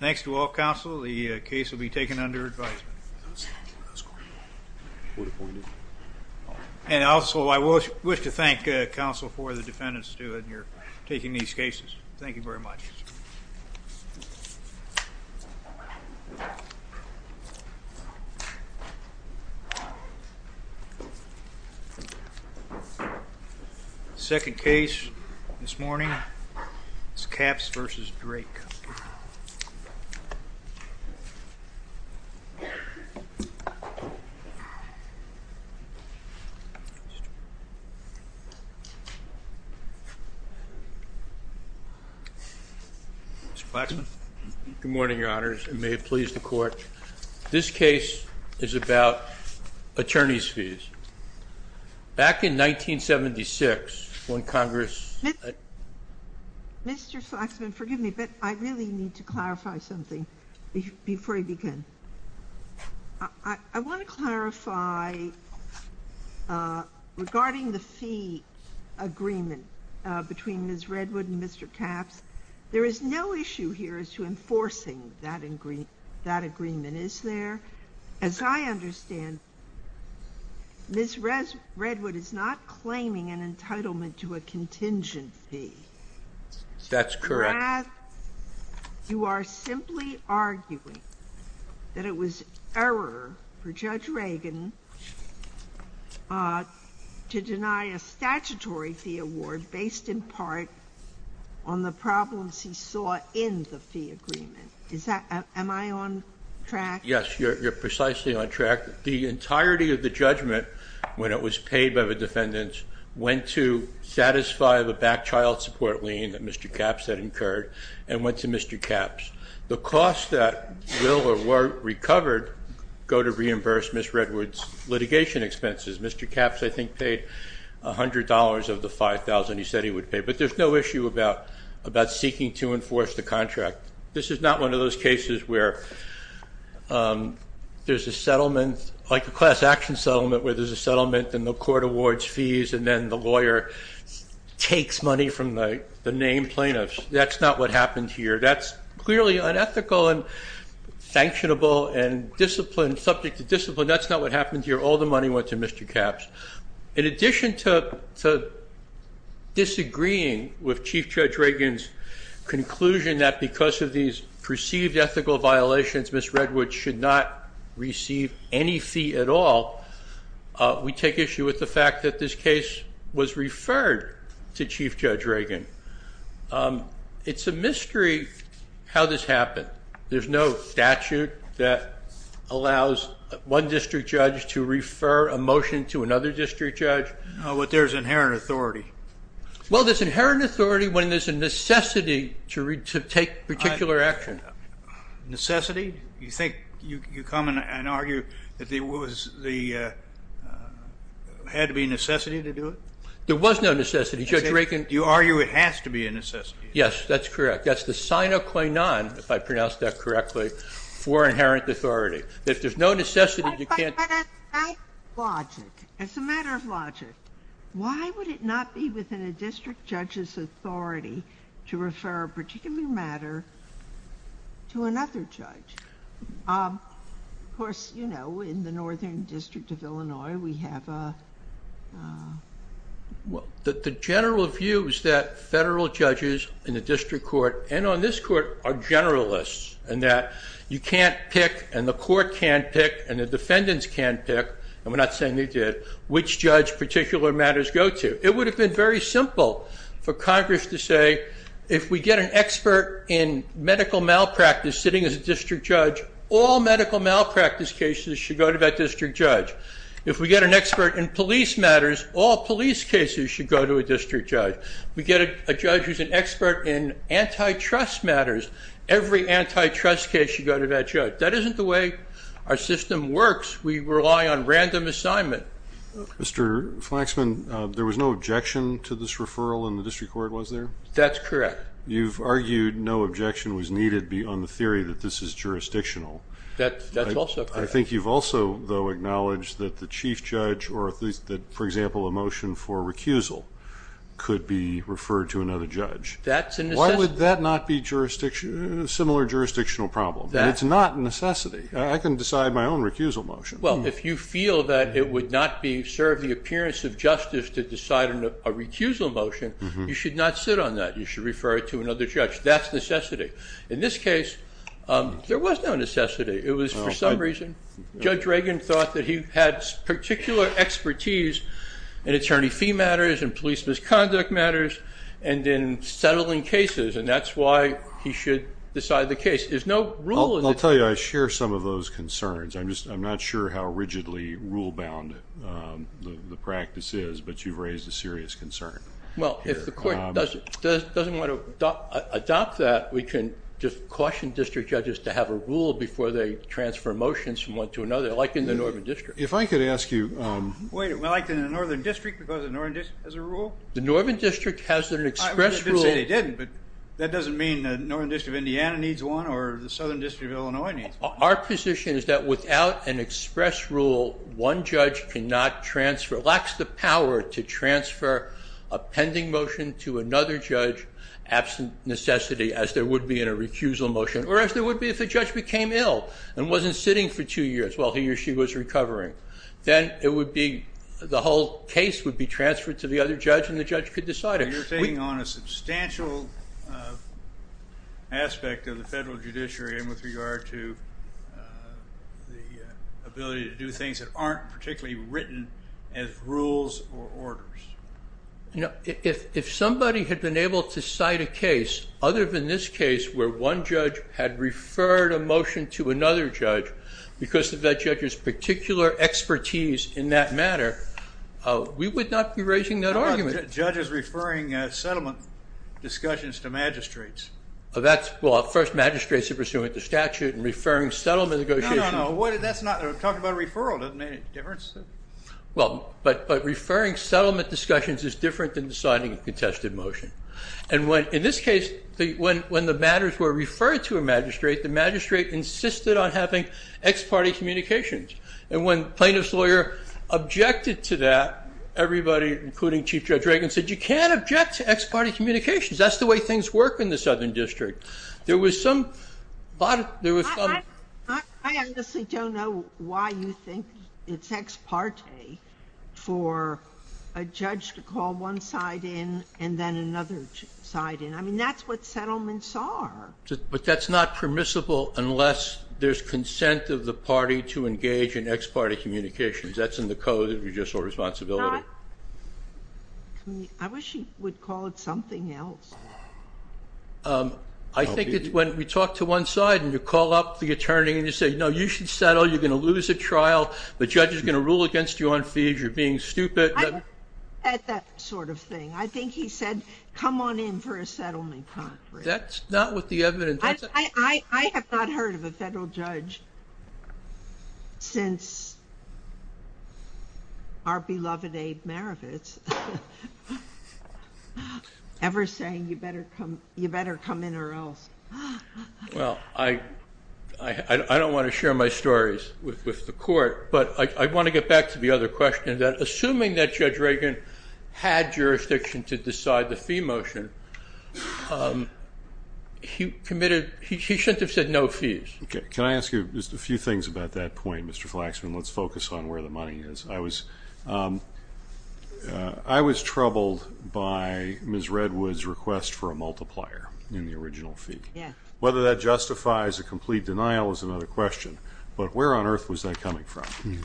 Thanks to all counsel, the case will be taken under advisement. And also I wish to thank counsel for the defendants, too, in taking these cases. Thank you very much. The second case this morning is Capps v. Drake. Good morning, your honors, and may it please the court. This case is about attorney's fees. Back in 1976, when Congress— Mr. Flaxman, forgive me, but I really need to clarify something before I begin. I want to clarify regarding the fee agreement between Ms. Redwood and Mr. Capps. There is no issue here as to enforcing that agreement, is there? As I understand, Ms. Redwood is not claiming an entitlement to a contingent fee. That's correct. You are simply arguing that it was error for Judge Reagan to deny a statutory fee award based in part on the problems he saw in the fee agreement. Am I on track? Yes, you're precisely on track. The entirety of the judgment, when it was paid by the defendants, went to satisfy the back child support lien that Mr. Capps had incurred and went to Mr. Capps. The costs that will or were recovered go to reimburse Ms. Redwood's litigation expenses. Mr. Capps, I think, paid $100 of the $5,000 he said he would pay. But there's no issue about seeking to enforce the contract. This is not one of those cases where there's a settlement, like a class action settlement where there's a settlement and the court awards fees and then the lawyer takes money from the named plaintiffs. That's not what happened here. That's clearly unethical and sanctionable and discipline, subject to discipline. That's not what happened here. All the money went to Mr. Capps. In addition to disagreeing with Chief Judge Reagan's conclusion that because of these perceived ethical violations, Ms. Redwood should not receive any fee at all, we take issue with the fact that this case was referred to Chief Judge Reagan. It's a mystery how this happened. There's no statute that allows one district judge to refer a motion to another district judge. No, but there's inherent authority. Well, there's inherent authority when there's a necessity to take particular action. Necessity? You think you come and argue that there had to be necessity to do it? There was no necessity. Judge Reagan— You argue it has to be a necessity. Yes, that's correct. That's the sine qua non, if I pronounced that correctly, for inherent authority. If there's no necessity, you can't— But as a matter of logic, why would it not be within a district judge's authority to refer a particular matter to another judge? Of course, you know, in the Northern District of Illinois, we have a— The general view is that federal judges in the district court and on this court are generalists in that you can't pick, and the court can't pick, and the defendants can't pick, and we're not saying they did, which judge particular matters go to. It would have been very simple for Congress to say, if we get an expert in medical malpractice sitting as a district judge, all medical malpractice cases should go to that district judge. If we get an expert in police matters, all police cases should go to a district judge. We get a judge who's an expert in antitrust matters, every antitrust case should go to that judge. That isn't the way our system works. We rely on random assignment. Mr. Flaxman, there was no objection to this referral in the district court, was there? That's correct. You've argued no objection was needed on the theory that this is jurisdictional. That's also correct. I think you've also, though, acknowledged that the chief judge, or at least that, for example, a motion for recusal could be referred to another judge. That's a necessity. Why would that not be similar jurisdictional problem? It's not a necessity. I can decide my own recusal motion. Well, if you feel that it would not serve the appearance of justice to decide on a recusal motion, you should not sit on that. You should refer it to another judge. That's necessity. In this case, there was no necessity. It was for some reason. Judge Reagan thought that he had particular expertise in attorney fee matters, in police misconduct matters, and in settling cases, and that's why he should decide the case. There's no rule. I'll tell you, I share some of those concerns. I'm not sure how rigidly rule-bound the practice is, but you've raised a serious concern. Well, if the court doesn't want to adopt that, we can just caution district judges to have a rule before they transfer motions from one to another, like in the Northern District. If I could ask you... Wait a minute. Like in the Northern District, because the Northern District has a rule? The Northern District has an express rule... I mean, they didn't say they didn't, but that doesn't mean the Northern District of Indiana needs one, or the Southern District of Illinois needs one. Our position is that without an express rule, one judge cannot transfer, lacks the power to transfer a pending motion to another judge, absent necessity, as there would be in a recusal motion, or as there would be if a judge became ill and wasn't sitting for two years while he or she was recovering. Then it would be, the whole case would be transferred to the other judge, and the judge could decide it. You're taking on a substantial aspect of the federal judiciary with regard to the ability to do things that aren't particularly written as rules or orders. If somebody had been able to cite a case other than this case where one judge had referred a motion to another judge because of that judge's particular expertise in that matter, we would not be raising that argument. How about judges referring settlement discussions to magistrates? Well, first magistrates are pursuant to statute, and referring settlement negotiations... No, no, no. That's not... Talking about referral doesn't make any difference. Well, but referring settlement discussions is different than deciding a contested motion. And when, in this case, when the matters were referred to a magistrate, the magistrate insisted on having ex parte communications. And when plaintiff's lawyer objected to that, everybody, including Chief Judge Reagan, said you can't object to ex parte communications. That's the way things work in the Southern District. There was some... I honestly don't know why you think it's ex parte for a judge to call one side in and then another side in. I mean, that's what settlements are. But that's not permissible unless there's consent of the party to engage in ex parte communications. That's in the Code of Judicial Responsibility. I wish you would call it something else. I think that when we talk to one side and you call up the attorney and you say, no, you should settle, you're going to lose a trial, the judge is going to rule against you on fees, you're being stupid... I don't think he said that sort of thing. I think he said, come on in for a settlement conference. That's not what the evidence... I have not heard of a federal judge since our beloved Abe Marovitz ever saying, you better come in or else. Well, I don't want to share my stories with the court, but I want to get back to the other question that assuming that Judge Reagan had jurisdiction to decide the fee motion, he committed... He shouldn't have said no fees. Okay. Can I ask you just a few things about that point, Mr. Flaxman? Let's focus on where the money is. I was troubled by Ms. Redwood's request for a multiplier in the original fee. Whether that justifies a complete denial is another question, but where on earth was that coming from?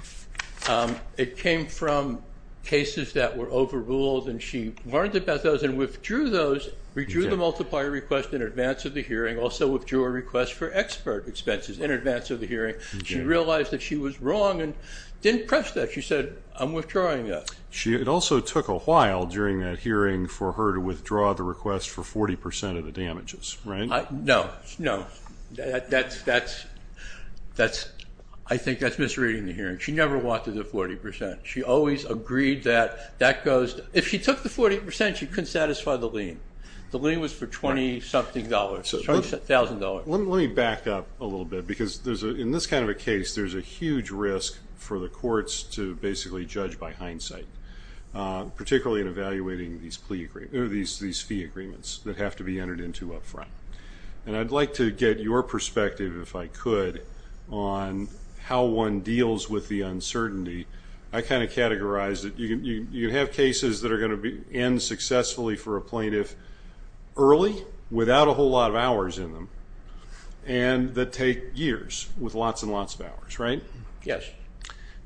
It came from cases that were overruled and she learned about those and withdrew the multiplier request in advance of the hearing, also withdrew a request for expert expenses in advance of the hearing. She realized that she was wrong and didn't press that. She said, I'm withdrawing that. It also took a while during that hearing for her to withdraw the request for 40% of the damages, right? No, no. I think that's misreading the hearing. She never walked through the 40%. She always agreed that that goes... If she took the 40%, she couldn't satisfy the lien. The lien was for 20 something dollars, $20,000. Let me back up a little bit because in this kind of a case, there's a huge risk for the plaintiff to basically judge by hindsight, particularly in evaluating these fee agreements that have to be entered into up front. I'd like to get your perspective, if I could, on how one deals with the uncertainty. I kind of categorized it. You have cases that are going to end successfully for a plaintiff early, without a whole lot of hours in them, and that take years with lots and lots of hours, right? Yes.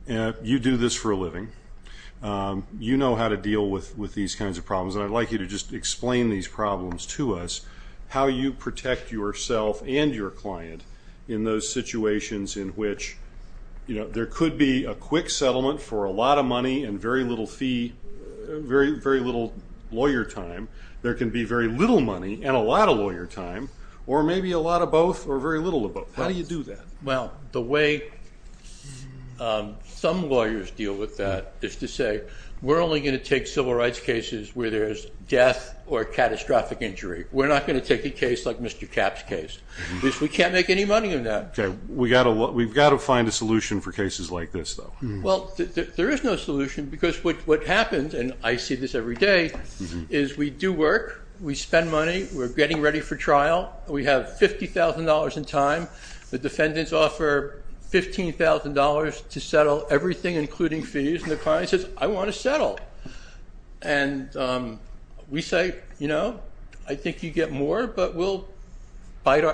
You do this for a living. You know how to deal with these kinds of problems. I'd like you to just explain these problems to us, how you protect yourself and your client in those situations in which there could be a quick settlement for a lot of money and very little fee, very little lawyer time. There can be very little money and a lot of lawyer time, or maybe a lot of both or very little of both. How do you do that? The way some lawyers deal with that is to say, we're only going to take civil rights cases where there's death or catastrophic injury. We're not going to take a case like Mr. Capp's case, because we can't make any money on that. We've got to find a solution for cases like this, though. There is no solution, because what happens, and I see this every day, is we do work, we spend money, we're getting ready for trial, we have $50,000 in time. The defendants offer $15,000 to settle everything, including fees, and the client says, I want to settle. And we say, you know, I think you get more, but we'll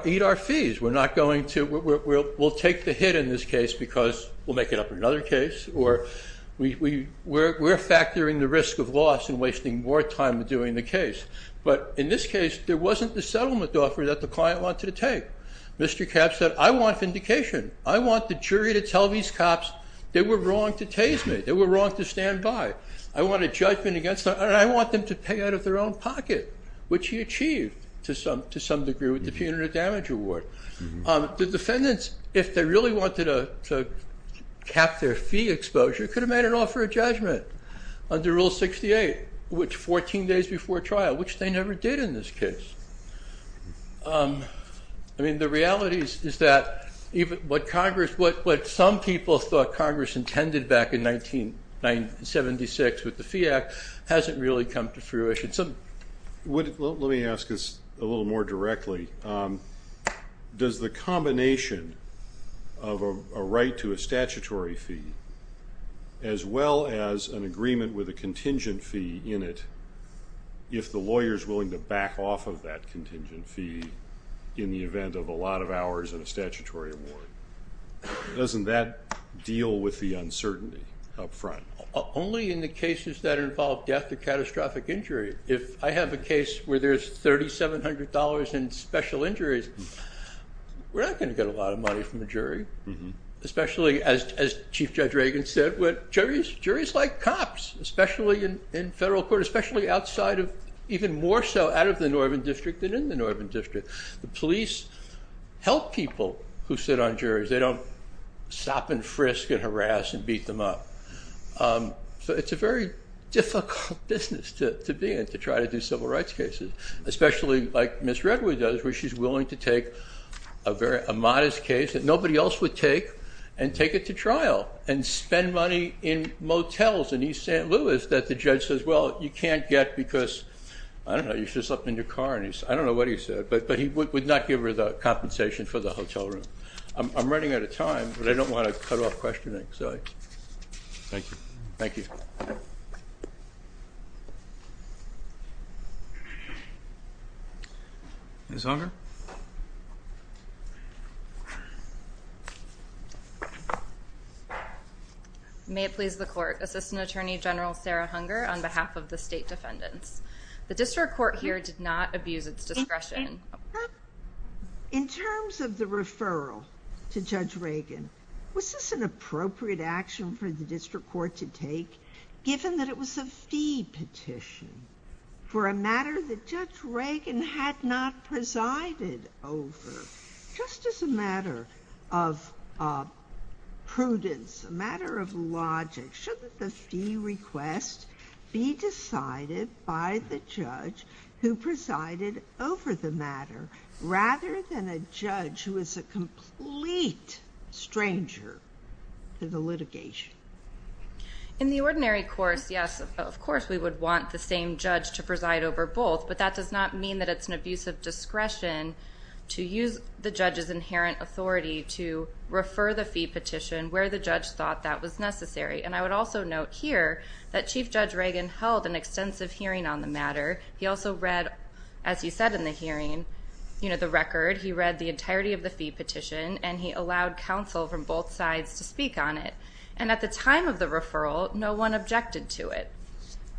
eat our fees. We're not going to, we'll take the hit in this case, because we'll make it up in another case, or we're factoring the risk of loss and wasting more time doing the case. But in this case, there wasn't the settlement offer that the client wanted to take. Mr. Capp said, I want vindication. I want the jury to tell these cops they were wrong to tase me, they were wrong to stand by. I want a judgment against them, and I want them to pay out of their own pocket, which he achieved, to some degree, with the punitive damage award. The defendants, if they really wanted to cap their fee exposure, could have made an offer of judgment under Rule 68, which, 14 days before trial, which they never did in this case. I mean, the reality is that what Congress, what some people thought Congress intended back in 1976 with the Fee Act, hasn't really come to fruition. Let me ask this a little more directly. Does the combination of a right to a statutory fee, as well as an agreement with a contingent fee in it, if the lawyer's willing to back off of that contingent fee in the event of a lot of hours and a statutory award, doesn't that deal with the uncertainty up front? Only in the cases that involve death or catastrophic injury. If I have a case where there's $3,700 in special injuries, we're not going to get a lot of money from the jury, especially, as Chief Judge Reagan said, what juries like cops, especially in federal court, especially outside of, even more so out of the Northern District than in the Northern District. The police help people who sit on juries. They don't sop and frisk and harass and beat them up. So it's a very difficult business to be in, to try to do civil rights cases, especially like Ms. Redwood does, where she's willing to take a modest case that nobody else would take and take it to trial and spend money in motels in East St. Louis that the judge says, well, you can't get because, I don't know, you should have slept in your car. I don't know what he said, but he would not give her the compensation for the hotel room. I'm running out of time, but I don't want to cut off questioning, so thank you. Thank you. Ms. Unger? May it please the court. Assistant Attorney General Sarah Unger on behalf of the state defendants. The district court here did not abuse its discretion. In terms of the referral to Judge Reagan, was this an appropriate action for the district court to take, given that it was a fee petition for a matter that Judge Reagan had not presided over? Just as a matter of prudence, a matter of logic, should the fee request be decided by the judge who presided over the matter, rather than a judge who is a complete stranger to the litigation? In the ordinary course, yes, of course, we would want the same judge to preside over both, but that does not mean that it's an abuse of discretion to use the judge's inherent authority to refer the fee petition where the judge thought that was necessary. And I would also note here that Chief Judge Reagan held an extensive hearing on the matter. He also read, as you said in the hearing, the record. He read the entirety of the fee petition, and he allowed counsel from both sides to speak on it. And at the time of the referral, no one objected to it.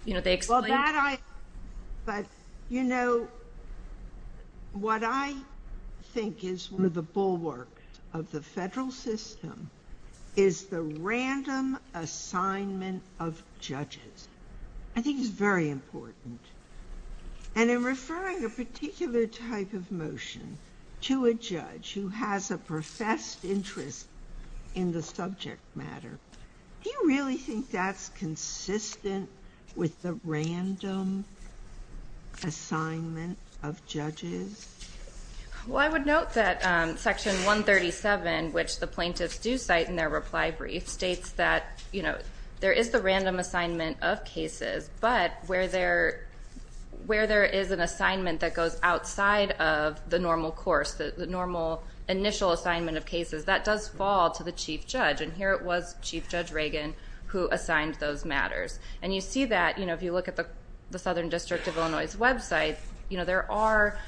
You know, they explained... Well, that I... but, you know, what I think is one of the bulwarks of the federal system is the random assignment of judges. I think it's very important. And in referring a particular type of motion to a judge who has a professed interest in the subject matter, do you really think that's consistent with the random assignment of judges? Well, I would note that Section 137, which the plaintiffs do cite in their reply brief, states that, you know, there is the random assignment of cases, but where there is an assignment that goes outside of the normal course, the normal initial assignment of cases, that does fall to the chief judge. And here it was Chief Judge Reagan who assigned those matters. And you see that, you know, if you look at the Southern District of Illinois' website, you know, there are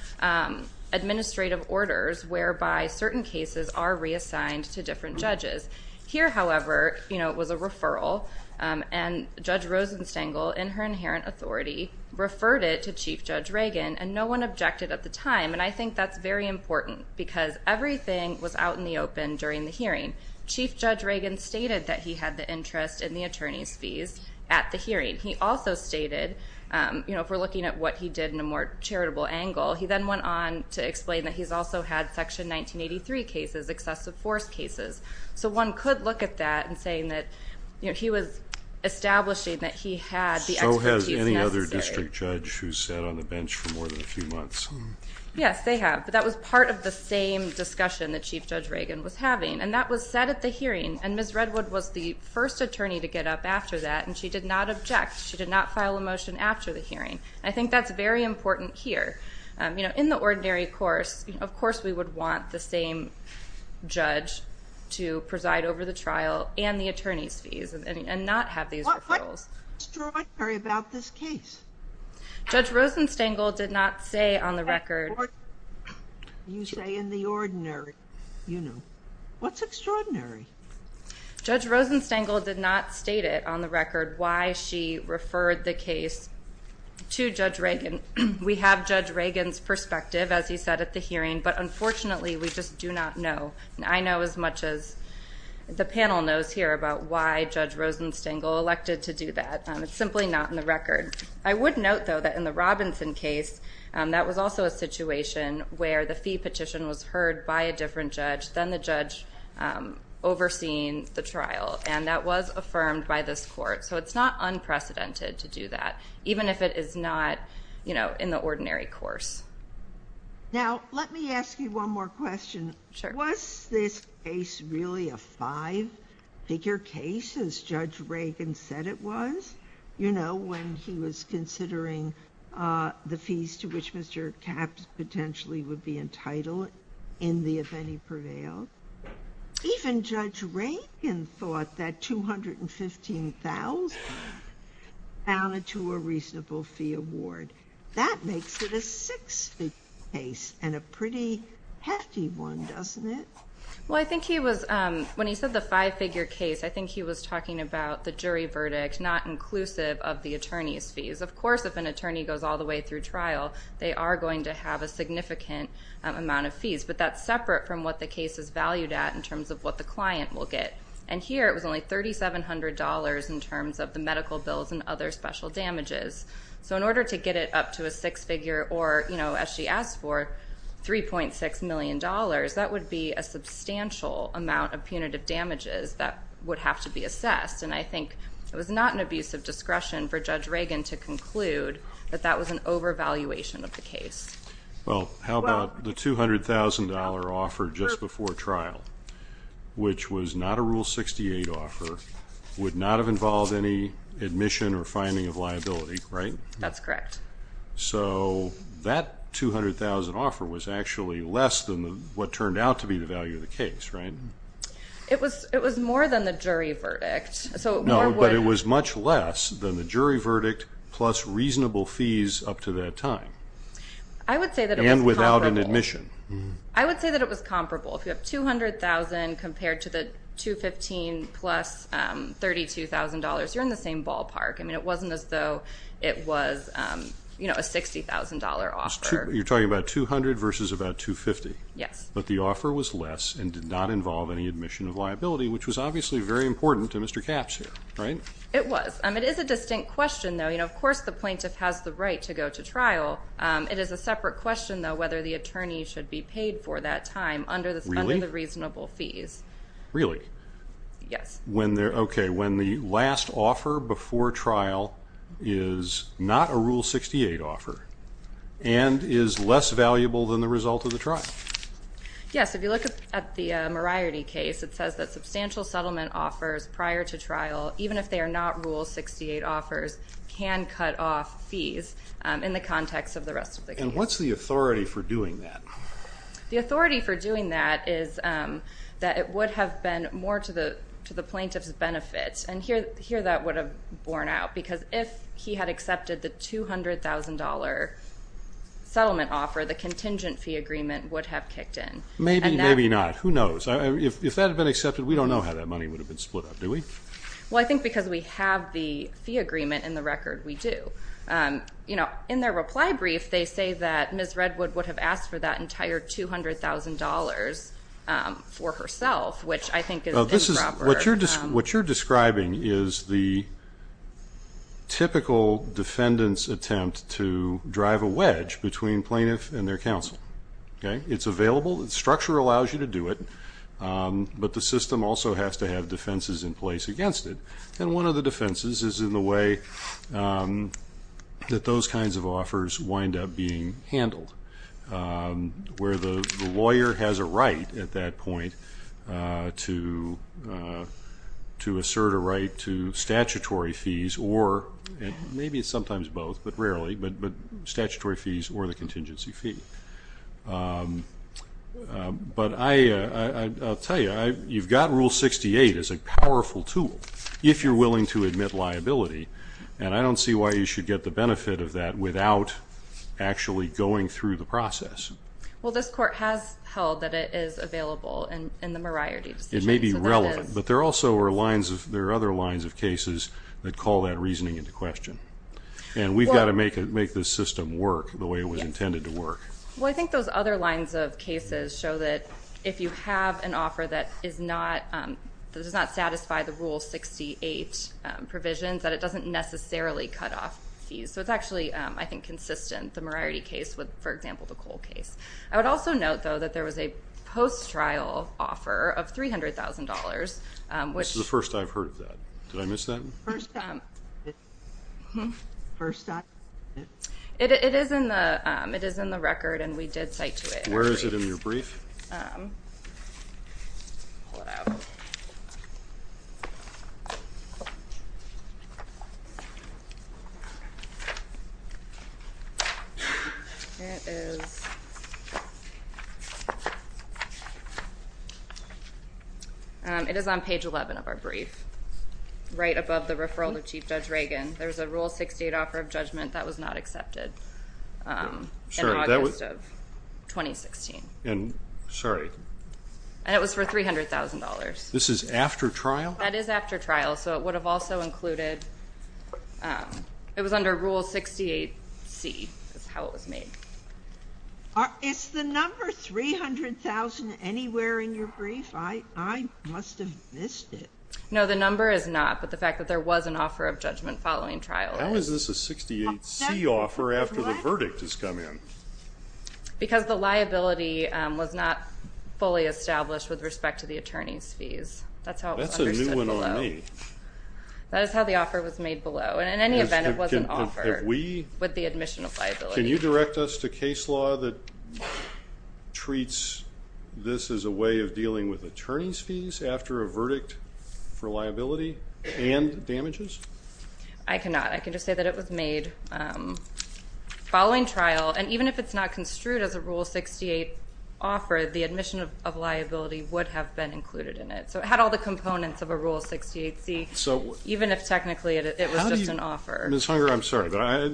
administrative orders whereby certain cases are reassigned to different judges. Here, however, you know, it was a referral, and Judge Rosenstengel, in her inherent authority, referred it to Chief Judge Reagan, and no one objected at the time. And I think that's very important because everything was out in the open during the hearing. Chief Judge Reagan stated that he had the interest in the attorney's fees at the hearing. He also stated, you know, if we're looking at what he did in a more charitable angle, he then went on to explain that he's also had Section 1983 cases, excessive force cases. So one could look at that and saying that, you know, he was establishing that he had the expertise necessary. So has any other district judge who's sat on the bench for more than a few months? Yes, they have. But that was part of the same discussion that Chief Judge Reagan was having. And that was said at the hearing. And Ms. Redwood was the first attorney to get up after that, and she did not object. She did not file a motion after the hearing. And I think that's very important here. You know, in the ordinary course, of course we would want the same judge to preside over the trial and the attorney's fees and not have these referrals. What's extraordinary about this case? Judge Rosenstengel did not say on the record. You say in the ordinary, you know, what's extraordinary? Judge Rosenstengel did not state it on the record why she referred the case to Judge Reagan. We have Judge Reagan's perspective, as he said at the hearing, but unfortunately we just do not know. And I know as much as the panel knows here about why Judge Rosenstengel elected to do that. It's simply not in the record. I would note though that in the Robinson case, that was also a situation where the fee petition was heard by a different judge, then the judge overseeing the trial. And that was affirmed by this court. So it's not unprecedented to do that, even if it is not, you know, in the ordinary course. Now let me ask you one more question. Was this case really a five-figure case, as Judge Reagan said it was? You know, when he was considering the fees to which Mr. Capps potentially would be entitled in the if-any prevail? Even Judge Reagan thought that $215,000 added to a reasonable fee award. That makes it a six-figure case and a pretty hefty one, doesn't it? Well, I think he was, when he said the five-figure case, I think he was talking about the jury verdict not inclusive of the attorney's fees. Of course, if an attorney goes all the way through trial, they are going to have a significant amount of fees. But that's separate from what the case is valued at in terms of what the client will get. And here it was only $3,700 in terms of the medical bills and other special damages. So in order to get it up to a six-figure or, you know, as she asked for, $3.6 million, that would be a substantial amount of punitive damages that would have to be assessed. And I think it was not an abuse of discretion for Judge Reagan to conclude that that was an overvaluation of the case. Well, how about the $200,000 offer just before trial, which was not a Rule 68 offer, would not have involved any admission or finding of liability, right? That's correct. So that $200,000 offer was actually less than what turned out to be the value of the case, right? It was more than the jury verdict. No, but it was much less than the jury verdict plus reasonable fees up to that time. I would say that it was comparable. And without an admission. I would say that it was comparable. If you have $200,000 compared to the $215,000 plus $32,000, you're in the same ballpark. I mean, it wasn't as though it was, you know, a $60,000 offer. You're talking about $200,000 versus about $250,000. Yes. But the offer was less and did not involve any admission of liability, which was obviously very important to Mr. Capps here, right? It was. It is a distinct question, though. You know, of course the plaintiff has the right to go to trial. It is a separate question, though, whether the attorney should be paid for that time Really? under the reasonable fees. Really? Yes. Okay. When the last offer before trial is not a Rule 68 offer and is less valuable than the result of the trial. Yes. If you look at the Moriarty case, it says that substantial settlement offers prior to trial, even if they are not Rule 68 offers, can cut off fees in the context of the rest of the case. And what's the authority for doing that? The authority for doing that is that it would have been more to the plaintiff's benefit. And here that would have borne out. Because if he had accepted the $200,000 settlement offer, the contingent fee agreement would have kicked in. Maybe, maybe not. Who knows? If that had been accepted, we don't know how that money would have been split up, do we? Well, I think because we have the fee agreement in the record, we do. In their reply brief, they say that Ms. Redwood would have asked for that entire $200,000 for herself, which I think is improper. What you're describing is the typical defendant's attempt to drive a wedge between plaintiff and their counsel. Okay? It's available. The structure allows you to do it, but the system also has to have defenses in place against it. And one of the defenses is in the way that those kinds of offers wind up being handled, where the lawyer has a right at that point to assert a right to statutory fees or, maybe sometimes both, but rarely, but statutory fees or the contingency fee. But I'll tell you, you've got Rule 68 as a powerful tool. If you're willing to admit liability, and I don't see why you should get the benefit of that without actually going through the process. Well, this court has held that it is available in the Moriarty decision. It may be relevant, but there are other lines of cases that call that reasoning into question. And we've got to make this system work the way it was intended to work. Well, I think those other lines of cases show that if you have an offer that does not satisfy the Rule 68 provisions, that it doesn't necessarily cut off fees. So it's actually, I think, consistent, the Moriarty case with, for example, the Cole case. I would also note, though, that there was a post-trial offer of $300,000, which... This is the first I've heard of that. Did I miss that? First time. First time? It is in the record, and we did cite to it. Where is it in your brief? Pull it out. Here it is. It is on page 11 of our brief, right above the referral to Chief Judge Reagan. There's a Rule 68 offer of judgment that was not accepted in August of 2016. Sorry. And it was for $300,000. This is after trial? That is after trial, so it would have also included... It was under Rule 68C, is how it was made. Is the number 300,000 anywhere in your brief? I must have missed it. No, the number is not, but the fact that there was an offer of judgment following trial... How is this a 68C offer after the verdict has come in? Because the liability was not fully established with respect to the attorney's fees. That's how it was understood below. That's a new one on me. That is how the offer was made below, and in any event, it was an offer with the admission of liability. Can you direct us to case law that treats this as a way of dealing with attorney's fees after a verdict for liability and damages? I cannot. I can just say that it was made following trial, and even if it's not construed as a Rule 68 offer, the admission of liability would have been included in it. So it had all the components of a Rule 68C, even if technically it was just an offer. Ms. Hunger, I'm sorry, but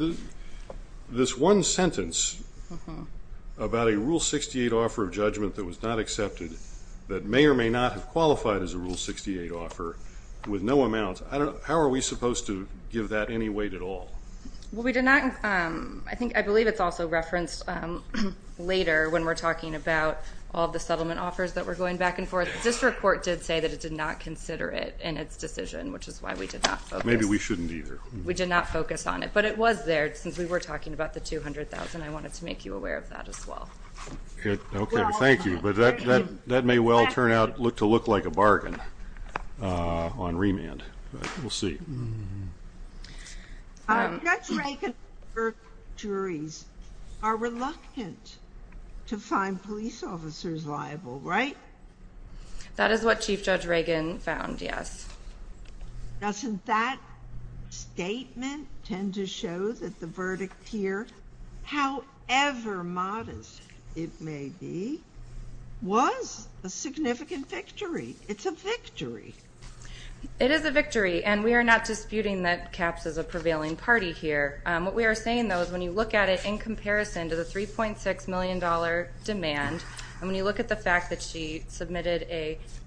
this one sentence about a Rule 68 offer of judgment that was not accepted, that may or may not have qualified as a Rule 68 offer with no amount, how are we supposed to give that any weight at all? Well, we did not, I think, I believe it's also referenced later when we're talking about all the settlement offers that were going back and forth. The district court did say that it did not consider it in its decision, which is why we did not focus. Maybe we shouldn't either. We did not focus on it, but it was there since we were talking about the $200,000. I wanted to make you aware of that as well. Okay, thank you, but that may well turn out to look like a bargain on remand. We'll see. Judge Reagan and Burke juries are reluctant to find police officers liable, right? That is what Chief Judge Reagan found, yes. Doesn't that statement tend to show that the verdict here, however modest it may be, was a significant victory? It's a victory. It is a victory, and we are not disputing that CAPS is a prevailing party here. What we are saying, though, is when you look at it in comparison to the $3.6 million demand, and when you look at the fact that she submitted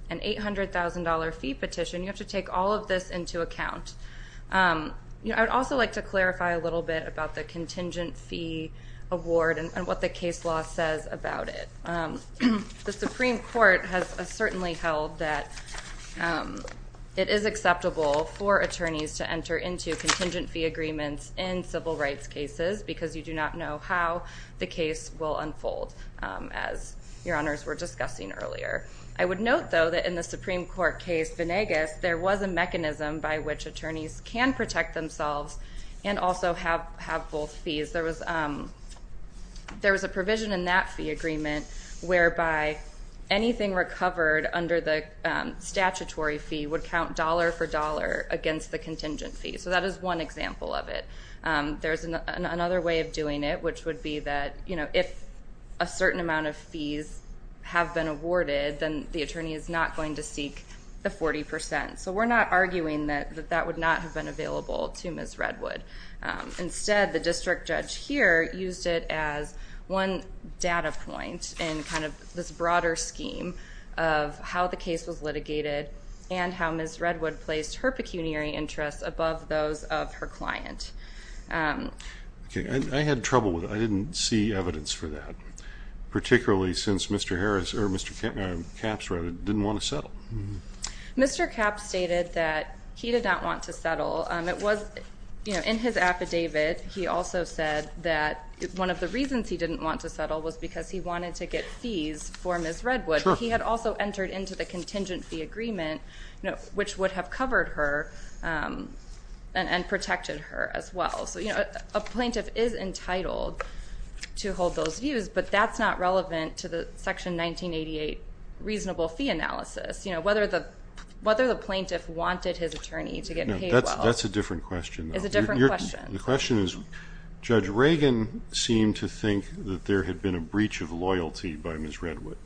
an $800,000 fee petition, you have to take all of this into account. I would also like to clarify a little bit about the contingent fee award and what the case law says about it. The Supreme Court has certainly held that it is acceptable for attorneys to enter into contingent fee agreements in civil rights cases because you do not know how the case will unfold, as Your Honors were discussing earlier. I would note, though, that in the Supreme Court case, Venegas, there was a mechanism by which attorneys can protect themselves and also have both fees. There was a provision in that fee agreement whereby anything recovered under the statutory fee would count dollar for dollar against the contingent fee, so that is one example of it. There is another way of doing it, which would be that if a certain amount of fees have been awarded, then the attorney is not going to seek the 40 percent, so we are not arguing that that would not have been available to Ms. Redwood. Instead, the district judge here used it as one data point in kind of this broader scheme of how the case was litigated and how Ms. Redwood placed her pecuniary interests above those of her client. I had trouble with it. I didn't see evidence for that, particularly since Mr. Harris, or Mr. Capps, rather, didn't want to settle. In his affidavit, he also said that one of the reasons he didn't want to settle was because he wanted to get fees for Ms. Redwood, but he had also entered into the contingent fee agreement, which would have covered her and protected her as well, so a plaintiff is entitled to hold those views, but that's not relevant to the Section 1988 reasonable fee analysis, whether the plaintiff wanted his attorney to get paid well. That's a different question. It's a different question. The question is, Judge Reagan seemed to think that there had been a breach of loyalty by Ms. Redwood.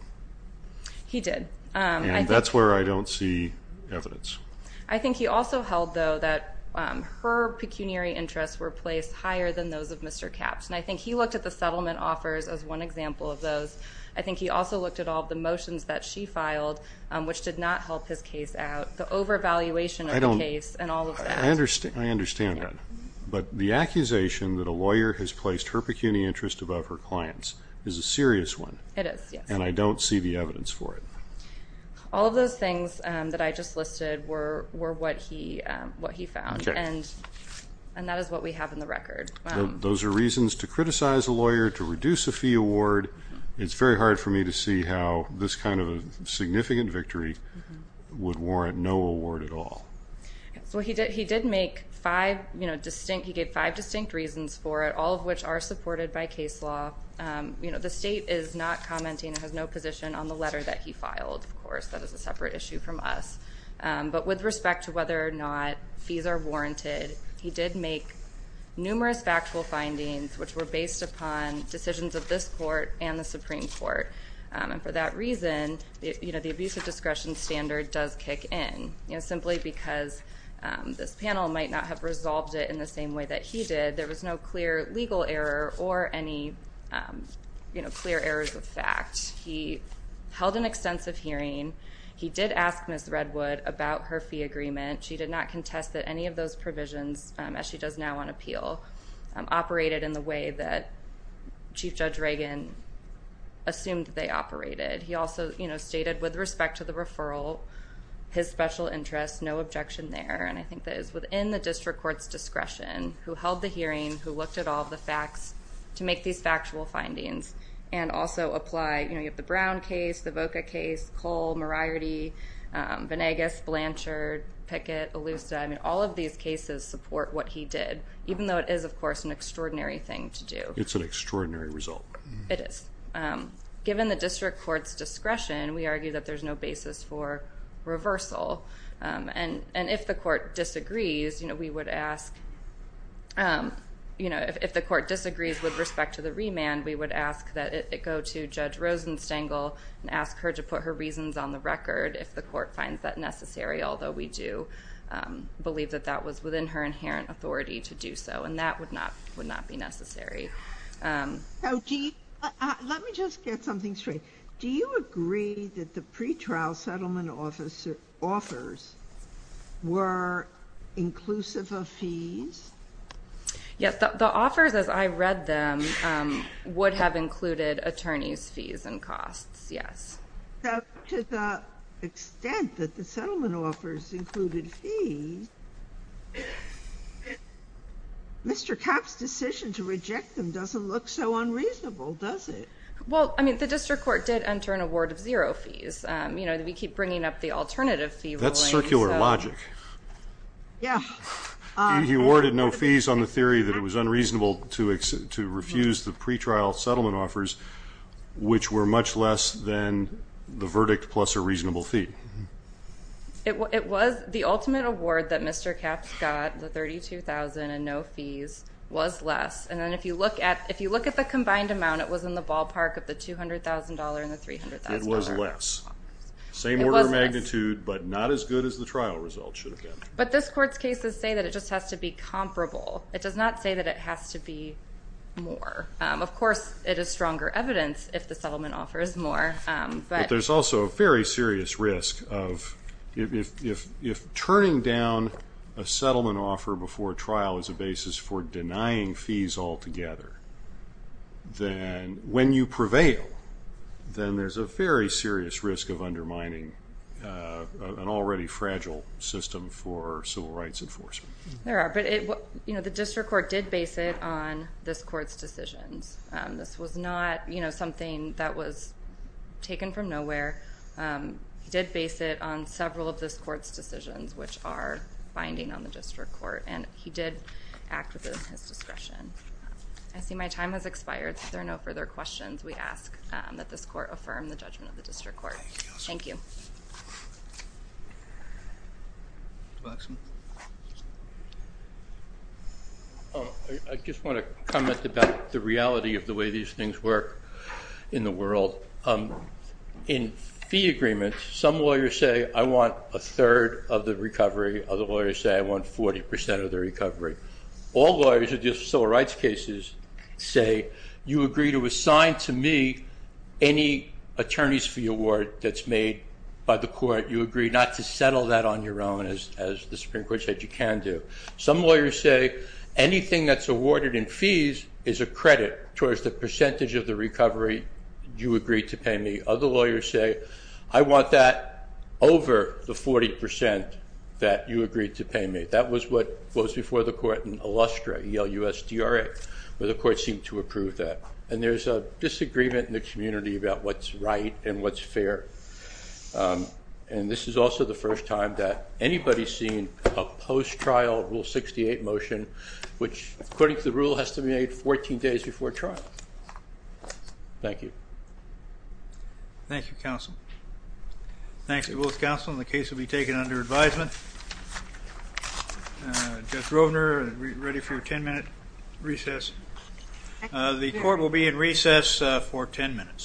He did. And that's where I don't see evidence. I think he also held, though, that her pecuniary interests were placed higher than those of Mr. Capps, and I think he looked at the settlement offers as one example of those. I think he also looked at all of the motions that she filed, which did not help his case out. The overvaluation of the case and all of that. I understand that. But the accusation that a lawyer has placed her pecuniary interests above her clients is a serious one. It is, yes. And I don't see the evidence for it. All of those things that I just listed were what he found, and that is what we have in the record. Those are reasons to criticize a lawyer, to reduce a fee award. It's very hard for me to see how this kind of significant victory would warrant no award at all. So he did make five distinct, he gave five distinct reasons for it, all of which are supported by case law. The state is not commenting, has no position on the letter that he filed, of course. That is a separate issue from us. But with respect to whether or not fees are warranted, he did make numerous factual findings which were based upon decisions of this court and the Supreme Court. And for that reason, the abuse of discretion standard does kick in. Simply because this panel might not have resolved it in the same way that he did, there was no clear legal error or any clear errors of fact. He held an extensive hearing. He did ask Ms. Redwood about her fee agreement. She did not contest that any of those provisions, as she does now on appeal, operated in the way that Chief Judge Reagan assumed they operated. He also stated, with respect to the referral, his special interest, no objection there. And I think that is within the district court's discretion, who held the hearing, who looked at all the facts to make these factual findings, and also apply, you know, you have the Brown case, the Voca case, Cole, Moriarty, Venegas, Blanchard, Pickett, Elusa, I mean, all of these cases support what he did, even though it is, of course, an extraordinary thing to do. It's an extraordinary result. It is. Given the district court's discretion, we argue that there's no basis for reversal. And if the court disagrees, you know, we would ask, you know, if the court disagrees with respect to the remand, we would ask that it go to Judge Rosenstengel and ask her to put her reasons on the record if the court finds that necessary, although we do believe that that was within her inherent authority to do so, and that would not be necessary. Now, let me just get something straight. Do you agree that the pretrial settlement offers were inclusive of fees? Yes. The offers, as I read them, would have included attorneys' fees and costs, yes. But to the extent that the settlement offers included fees, Mr. Kapp's decision to reject them doesn't look so unreasonable, does it? Well, I mean, the district court did enter an award of zero fees. You know, we keep bringing up the alternative fee ruling. That's circular logic. Yeah. He awarded no fees on the theory that it was unreasonable to refuse the pretrial settlement offers, which were much less than the verdict plus a reasonable fee. It was. The ultimate award that Mr. Kapp got, the $32,000 and no fees, was less, and then if you look at the combined amount, it was in the ballpark of the $200,000 and the $300,000. It was less. It was less. Same order of magnitude, but not as good as the trial result should have been. But this court's cases say that it just has to be comparable. It does not say that it has to be more. Of course, it is stronger evidence if the settlement offer is more, but... There's also a very serious risk of, if turning down a settlement offer before trial is a basis for denying fees altogether, then when you prevail, then there's a very serious risk of undermining an already fragile system for civil rights enforcement. There are. The district court did base it on this court's decisions. This was not something that was taken from nowhere. He did base it on several of this court's decisions, which are binding on the district court, and he did act within his discretion. I see my time has expired, so if there are no further questions, we ask that this court affirm the judgment of the district court. Thank you. I just want to comment about the reality of the way these things work in the world. In fee agreements, some lawyers say, I want a third of the recovery, other lawyers say I want 40% of the recovery. All lawyers who deal with civil rights cases say, you agree to assign to me any attorney's award that's made by the court. You agree not to settle that on your own, as the Supreme Court said you can do. Some lawyers say, anything that's awarded in fees is a credit towards the percentage of the recovery you agreed to pay me. Other lawyers say, I want that over the 40% that you agreed to pay me. That was what was before the court in Illustra, E-L-U-S-D-R-A, where the court seemed to approve that. There's a disagreement in the community about what's right and what's fair. This is also the first time that anybody's seen a post-trial Rule 68 motion, which according to the rule, has to be made 14 days before trial. Thank you. Thank you, counsel. Thank you both, counsel, and the case will be taken under advisement. Judge Rovner, are you ready for your 10-minute recess? The court will be in recess for 10 minutes.